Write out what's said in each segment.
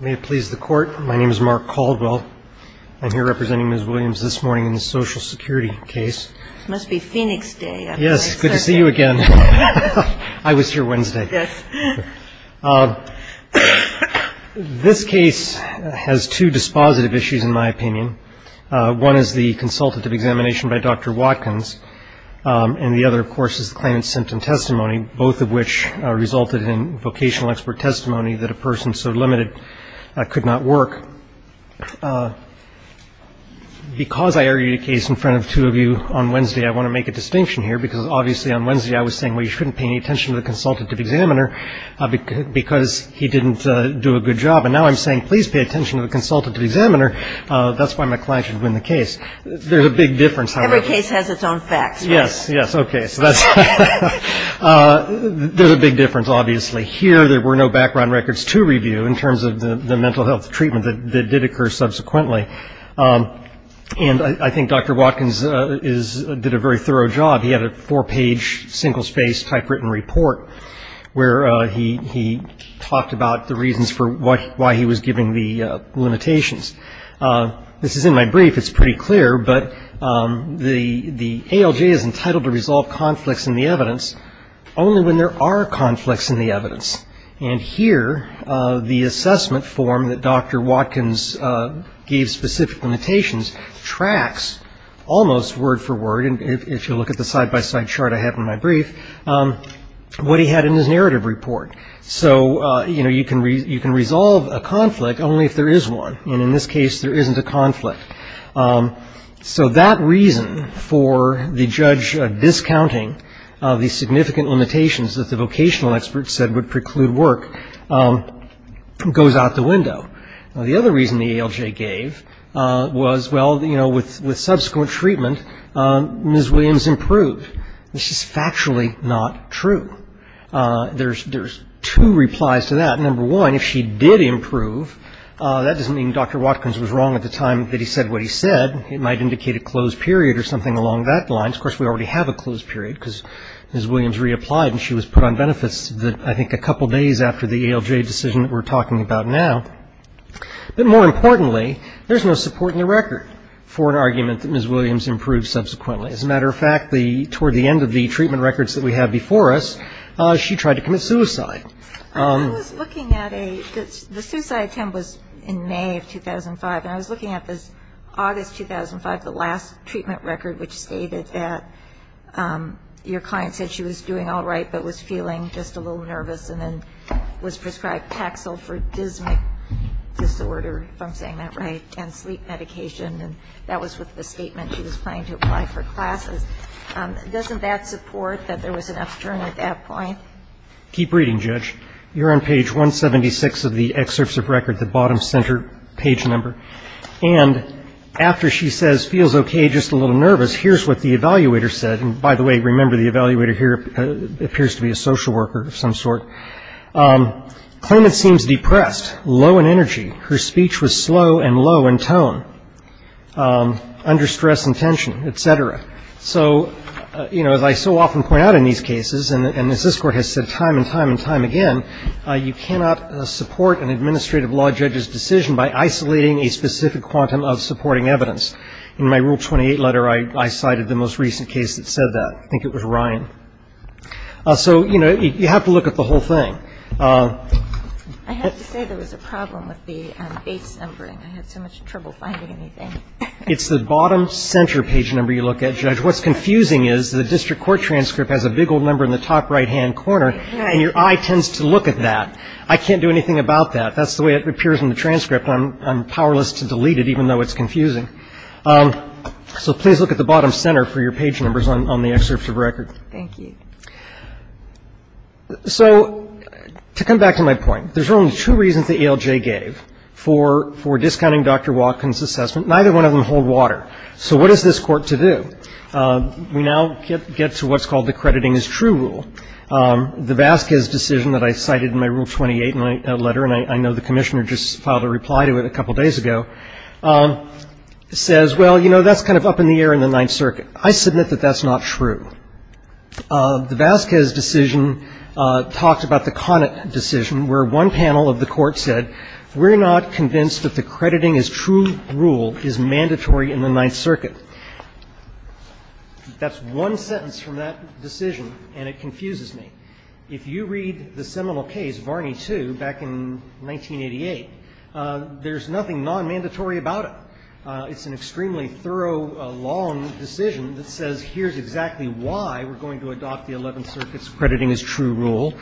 May it please the Court, my name is Mark Caldwell. I'm here representing Ms. Williams this morning in the Social Security case. It must be Phoenix Day. Yes, good to see you again. I was here Wednesday. This case has two dispositive issues, in my opinion. One is the consultative examination by Dr. Watkins, and the other, of course, is the claimant's symptom testimony, both of which resulted in vocational expert testimony that a person so limited could not work. Because I argued a case in front of two of you on Wednesday, I want to make a distinction here, because obviously on Wednesday I was saying, well, you shouldn't pay any attention to the consultative examiner because he didn't do a good job. And now I'm saying, please pay attention to the consultative examiner. That's why my client should win the case. There's a big difference, however. Every case has its own facts, right? Yes, yes. Okay. So that's ‑‑ there's a big difference, obviously. Here there were no background records to review in terms of the mental health treatment that did occur subsequently. And I think Dr. Watkins is ‑‑ did a very thorough job. He had a four-page, single-spaced, typewritten report where he talked about the reasons for why he was giving the limitations. This is in my brief. It's pretty clear. But the ALJ is entitled to resolve conflicts in the evidence only when there are conflicts in the evidence. And here the assessment form that Dr. Watkins gave specific limitations tracks almost word for word, and if you look at the side-by-side chart I have in my brief, what he had in his narrative report. So, you know, you can resolve a conflict only if there is one. And in this case there isn't a conflict. So that reason for the judge discounting the significant limitations that the vocational experts said would preclude work goes out the window. The other reason the ALJ gave was, well, you know, with subsequent treatment, Ms. Williams improved. This is factually not true. There's two replies to that. Number one, if she did improve, that doesn't mean Dr. Watkins was wrong at the time that he said what he said. It might indicate a closed period or something along that line. Of course, we already have a closed period because Ms. Williams reapplied and she was put on benefits, I think, a couple days after the ALJ decision that we're talking about now. But more importantly, there's no support in the record for an argument that Ms. Williams improved subsequently. As a matter of fact, toward the end of the treatment records that we have before us, she tried to commit suicide. I was looking at a the suicide attempt was in May of 2005. And I was looking at this August 2005, the last treatment record, which stated that your client said she was doing all right but was feeling just a little nervous and then was prescribed Paxil for dysmic disorder, if I'm saying that right, and sleep medication. And that was with the statement she was planning to apply for classes. Doesn't that support that there was an upturn at that point? Keep reading, Judge. You're on page 176 of the excerpts of record, the bottom center page number. And after she says feels okay, just a little nervous, here's what the evaluator said. And, by the way, remember the evaluator here appears to be a social worker of some sort. Claimant seems depressed, low in energy. Her speech was slow and low in tone, under stress and tension, et cetera. So, you know, as I so often point out in these cases, and as this Court has said time and time and time again, you cannot support an administrative law judge's decision by isolating a specific quantum of supporting evidence. In my Rule 28 letter, I cited the most recent case that said that. I think it was Ryan. So, you know, you have to look at the whole thing. I have to say there was a problem with the base numbering. I had so much trouble finding anything. It's the bottom center page number you look at, Judge. What's confusing is the district court transcript has a big old number in the top right-hand corner, and your eye tends to look at that. I can't do anything about that. That's the way it appears in the transcript. I'm powerless to delete it, even though it's confusing. So please look at the bottom center for your page numbers on the excerpts of record. Thank you. So to come back to my point, there's only two reasons the ALJ gave for discounting Dr. Watkins' assessment. Neither one of them hold water. So what is this Court to do? We now get to what's called the crediting is true rule. The Vasquez decision that I cited in my Rule 28 letter, and I know the Commissioner just filed a reply to it a couple days ago, says, well, you know, that's kind of up in the air in the Ninth Circuit. I submit that that's not true. The Vasquez decision talked about the Connick decision, where one panel of the Court said, we're not convinced that the crediting is true rule is mandatory in the Ninth Circuit. That's one sentence from that decision, and it confuses me. If you read the seminal case, Varney II, back in 1988, there's nothing nonmandatory about it. It's an extremely thorough, long decision that says here's exactly why we're going to adopt the Eleventh Circuit's crediting is true rule,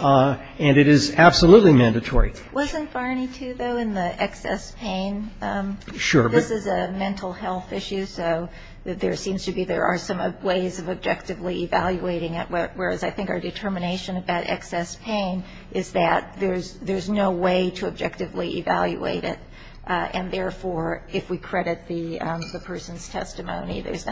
and it is absolutely mandatory. Wasn't Varney II, though, in the excess pain? Sure. This is a mental health issue, so there seems to be there are some ways of objectively evaluating it, whereas I think our determination about excess pain is that there's no way to objectively evaluate it, and therefore, if we credit the person's testimony, there's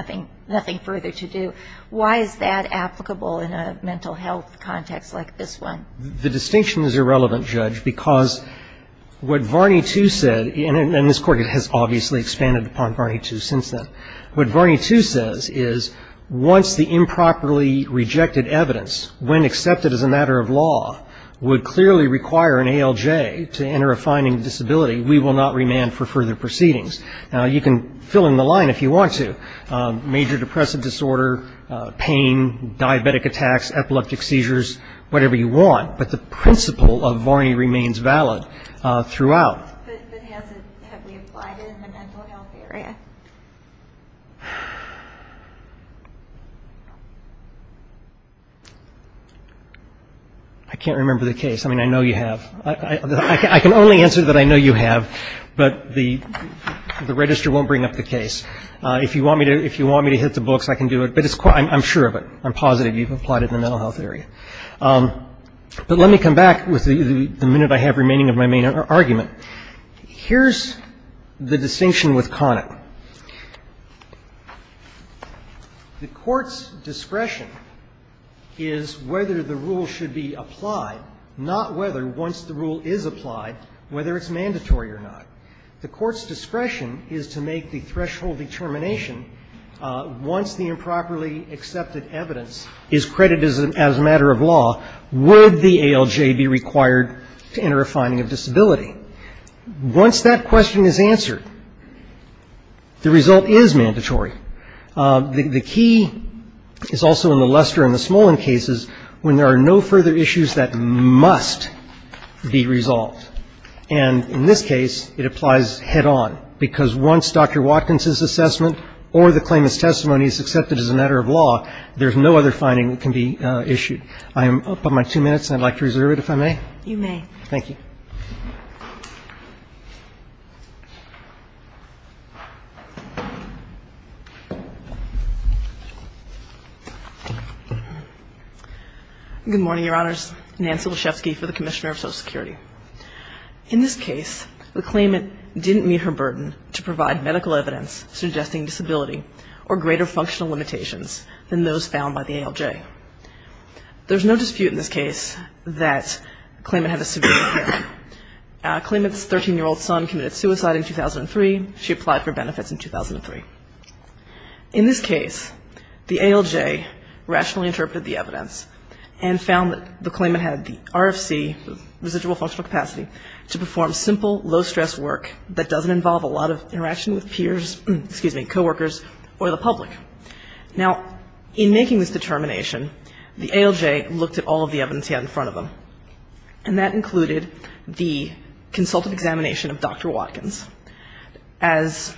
nothing further to do. Why is that applicable in a mental health context like this one? The distinction is irrelevant, Judge, because what Varney II said, and this Court has obviously expanded upon Varney II since then, what Varney II says is once the improperly rejected evidence, when accepted as a matter of law, would clearly require an ALJ to enter a finding of disability, we will not remand for further proceedings. Now, you can fill in the line if you want to, major depressive disorder, pain, diabetic attacks, epileptic seizures, whatever you want, but the principle of Varney remains valid throughout. But has it, have we applied it in the mental health area? I can't remember the case. I mean, I know you have. I can only answer that I know you have, but the register won't bring up the case. If you want me to hit the books, I can do it, but I'm sure of it. I'm positive you've applied it in the mental health area. But let me come back with the minute I have remaining of my main argument. Here's the distinction with Conant. The Court's discretion is whether the rule should be applied, not whether, once the rule is applied, whether it's mandatory or not. The Court's discretion is to make the threshold determination once the improperly accepted evidence is credited as a matter of law, would the ALJ be required to enter a finding of disability? Once that question is answered, the result is mandatory. The key is also in the Lester and the Smolin cases when there are no further issues that must be resolved. And in this case, it applies head-on, because once Dr. Watkins' assessment or the claimant's testimony is accepted as a matter of law, there's no other finding that can be issued. I am up on my two minutes. I'd like to reserve it, if I may. Thank you. Good morning, Your Honors. Nancy Leshefsky for the Commissioner of Social Security. In this case, the claimant didn't meet her burden to provide medical evidence suggesting disability or greater functional limitations than those found by the ALJ. There's no dispute in this case that the claimant had a severe impairment. The claimant's 13-year-old son committed suicide in 2003. She applied for benefits in 2003. In this case, the ALJ rationally interpreted the evidence and found that the claimant had the RFC, residual functional capacity, to perform simple, low-stress work that doesn't involve a lot of interaction with peers, excuse me, coworkers, or the public. Now, in making this determination, the ALJ looked at all of the evidence he had in front of him, and that included the consultant examination of Dr. Watkins. As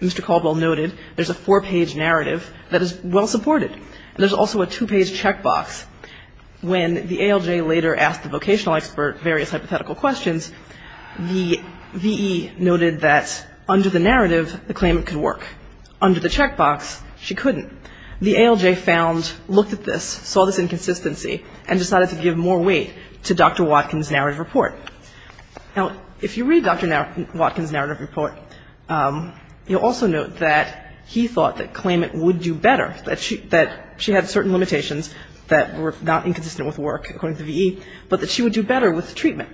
Mr. Caldwell noted, there's a four-page narrative that is well-supported. There's also a two-page checkbox. When the ALJ later asked the vocational expert various hypothetical questions, the V.E. noted that under the narrative, the claimant could work. Under the checkbox, she couldn't. The ALJ found, looked at this, saw this inconsistency, and decided to give more weight to Dr. Watkins' narrative report. Now, if you read Dr. Watkins' narrative report, you'll also note that he thought that claimant would do better, that she had certain limitations that were not inconsistent with work, according to the V.E., but that she would do better with treatment.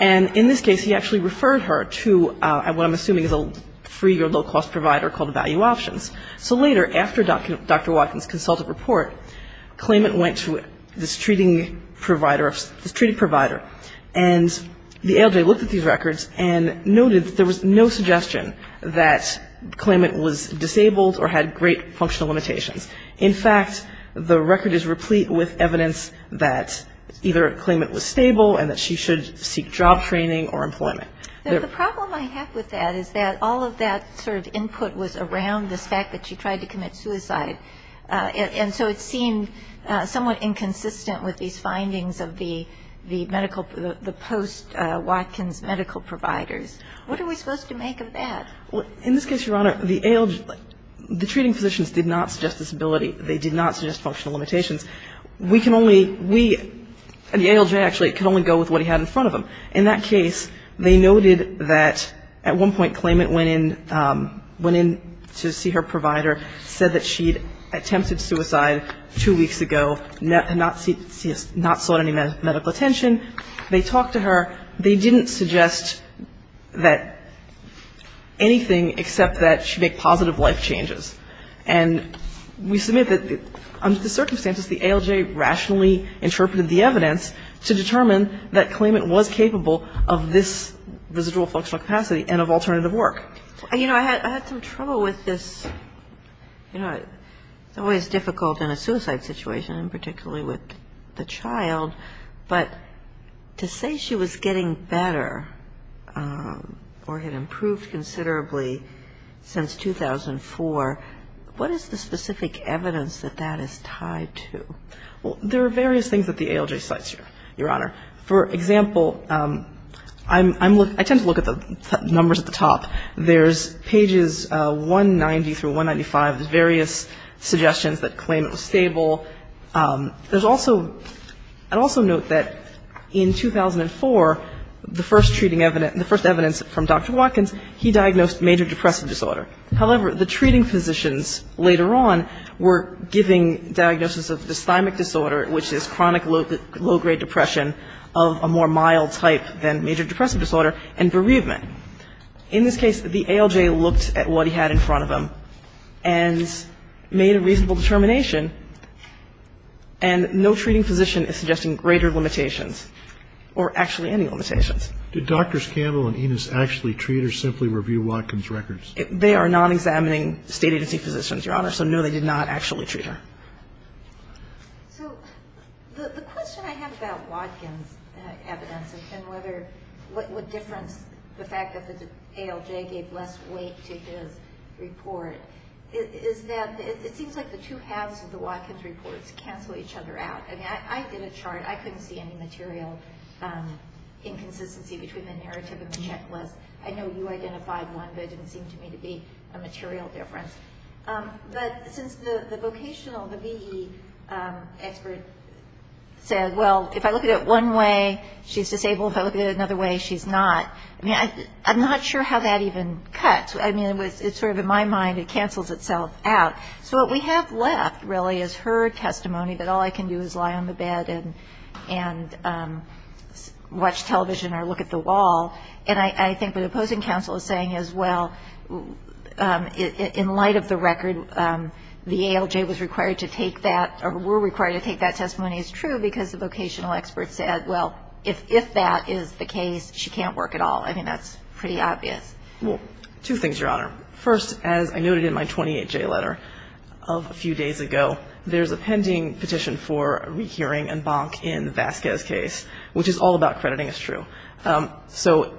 And in this case, he actually referred her to what I'm assuming is a free or low-cost provider called Value Options. So later, after Dr. Watkins' consultative report, claimant went to this treating provider, and the ALJ looked at these records and noted that there was no suggestion that claimant was disabled or had great functional limitations. In fact, the record is replete with evidence that either claimant was stable and that she should seek job training or employment. The problem I have with that is that all of that sort of input was around this fact that she tried to commit suicide, and so it seemed somewhat inconsistent with these findings of the medical, the post-Watkins medical providers. What are we supposed to make of that? Well, in this case, Your Honor, the ALJ, the treating physicians did not suggest disability. They did not suggest functional limitations. We can only, we, the ALJ actually could only go with what he had in front of him. In that case, they noted that at one point, claimant went in, went in to see her provider, said that she'd attempted suicide two weeks ago, not sought any medical attention. They talked to her. They didn't suggest that anything except that she make positive life changes. And we submit that under the circumstances, the ALJ rationally interpreted the evidence to determine that claimant was capable of this residual functional capacity and of alternative work. You know, I had some trouble with this. You know, it's always difficult in a suicide situation and particularly with the child, but to say she was getting better or had improved considerably since 2004, what is the specific evidence that that is tied to? Well, there are various things that the ALJ cites here, Your Honor. For example, I tend to look at the numbers at the top. There's pages 190 through 195, various suggestions that claim it was stable. There's also, I'd also note that in 2004, the first treating evidence, the first evidence from Dr. Watkins, he diagnosed major depressive disorder. However, the treating physicians later on were giving diagnosis of dysthymic disorder, which is chronic low-grade depression of a more mild type than major depressive disorder, and bereavement. In this case, the ALJ looked at what he had in front of him and made a reasonable determination, and no treating physician is suggesting greater limitations or actually any limitations. Did Drs. Campbell and Enos actually treat or simply review Watkins' records? They are non-examining State agency physicians, Your Honor, so no, they did not actually treat her. So the question I have about Watkins' evidence and what difference the fact that the ALJ gave less weight to his report is that it seems like the two halves of the Watkins reports cancel each other out. I mean, I did a chart. I couldn't see any material inconsistency between the narrative and the checklist. I know you identified one, but it didn't seem to me to be a material difference. But since the vocational, the V.E. expert said, well, if I look at it one way, she's disabled. If I look at it another way, she's not. I mean, I'm not sure how that even cuts. I mean, it's sort of in my mind it cancels itself out. So what we have left, really, is her testimony that all I can do is lie on the bed and watch television or look at the wall. And I think what the opposing counsel is saying is, well, in light of the record, the ALJ was required to take that or were required to take that testimony as true because the vocational expert said, well, if that is the case, she can't work at all. I mean, that's pretty obvious. Well, two things, Your Honor. First, as I noted in my 28J letter of a few days ago, there's a pending petition for a rehearing and bonk in Vasquez's case, which is all about crediting as true. So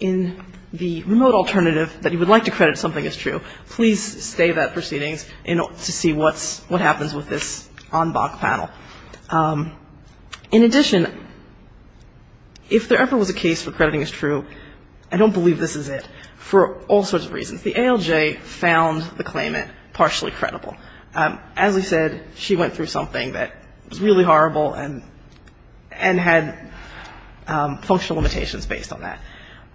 in the remote alternative that you would like to credit something as true, please stay that proceedings to see what happens with this on-bonk panel. In addition, if there ever was a case for crediting as true, I don't believe this is it for all sorts of reasons. The ALJ found the claimant partially credible. As we said, she went through something that was really horrible and had functional limitations based on that.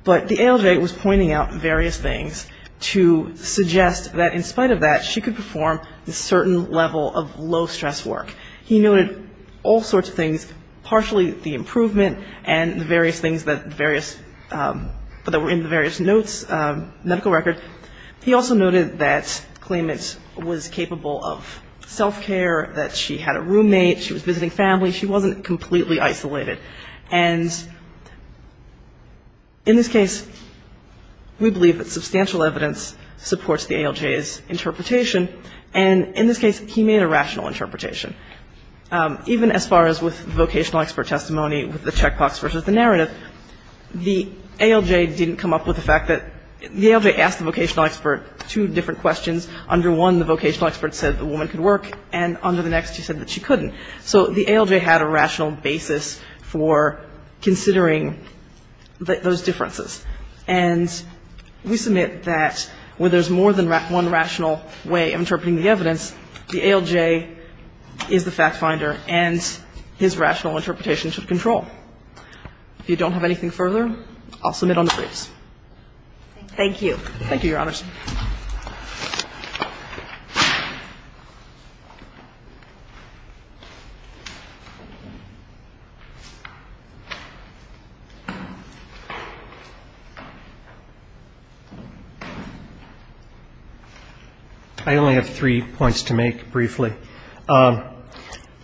But the ALJ was pointing out various things to suggest that in spite of that, she could perform a certain level of low-stress work. He noted all sorts of things, partially the improvement and the various things that were in the various notes, medical record. He also noted that the claimant was capable of self-care, that she had a roommate, she was visiting family, she wasn't completely isolated. And in this case, we believe that substantial evidence supports the ALJ's interpretation. And in this case, he made a rational interpretation. Even as far as with vocational expert testimony with the checkbox versus the narrative, the ALJ didn't come up with the fact that the ALJ asked the vocational expert two different questions. Under one, the vocational expert said the woman could work, and under the next, she said that she couldn't. So the ALJ had a rational basis for considering those differences. And we submit that where there's more than one rational way of interpreting the evidence, the ALJ is the fact finder, and his rational interpretation should control. If you don't have anything further, I'll submit on the briefs. Thank you. Thank you, Your Honors. I only have three points to make briefly. I'm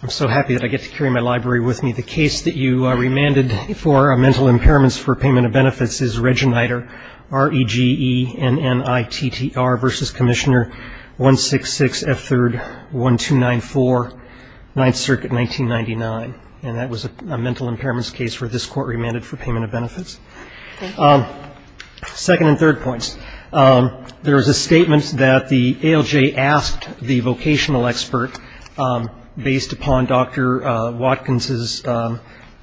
so happy that I get to carry my library with me. The case that you remanded for mental impairments for payment of benefits is Regeniter, R-E-G-E-N-N-I-T-T-R versus Commissioner 166F3-1294, Ninth Circuit, 1999. And that was a mental impairments case where this Court remanded for payment of benefits. Thank you. Second and third points. There was a statement that the ALJ asked the vocational expert based upon Dr. Watkins'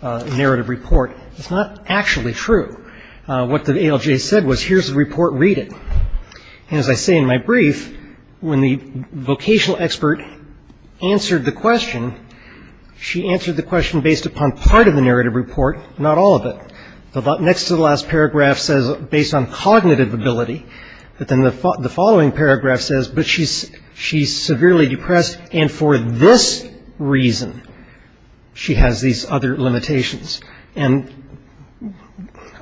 narrative report. It's not actually true. What the ALJ said was, here's the report, read it. And as I say in my brief, when the vocational expert answered the question, she answered the question based upon part of the narrative report, not all of it. Next to the last paragraph says, based on cognitive ability. But then the following paragraph says, but she's severely depressed, and for this reason she has these other limitations. And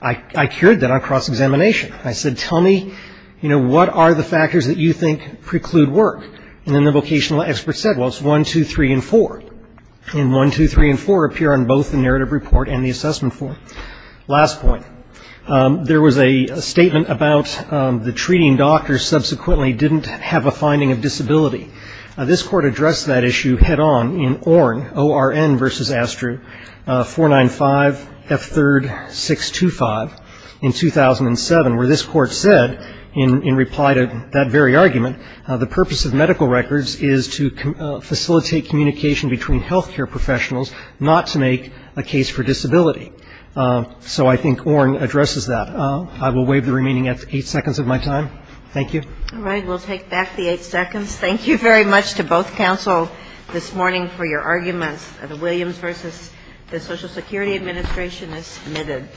I cured that on cross-examination. I said, tell me, you know, what are the factors that you think preclude work? And then the vocational expert said, well, it's 1, 2, 3, and 4. And 1, 2, 3, and 4 appear on both the narrative report and the assessment form. Last point. There was a statement about the treating doctor subsequently didn't have a finding of disability. This court addressed that issue head-on in ORN, O-R-N versus Astru, 495F3-625 in 2007, where this court said in reply to that very argument, the purpose of medical records is to facilitate communication between health care professionals not to make a case for disability. So I think ORN addresses that. I will waive the remaining eight seconds of my time. Thank you. All right. We'll take back the eight seconds. Thank you very much to both counsel this morning for your arguments. The Williams versus the Social Security Administration is submitted.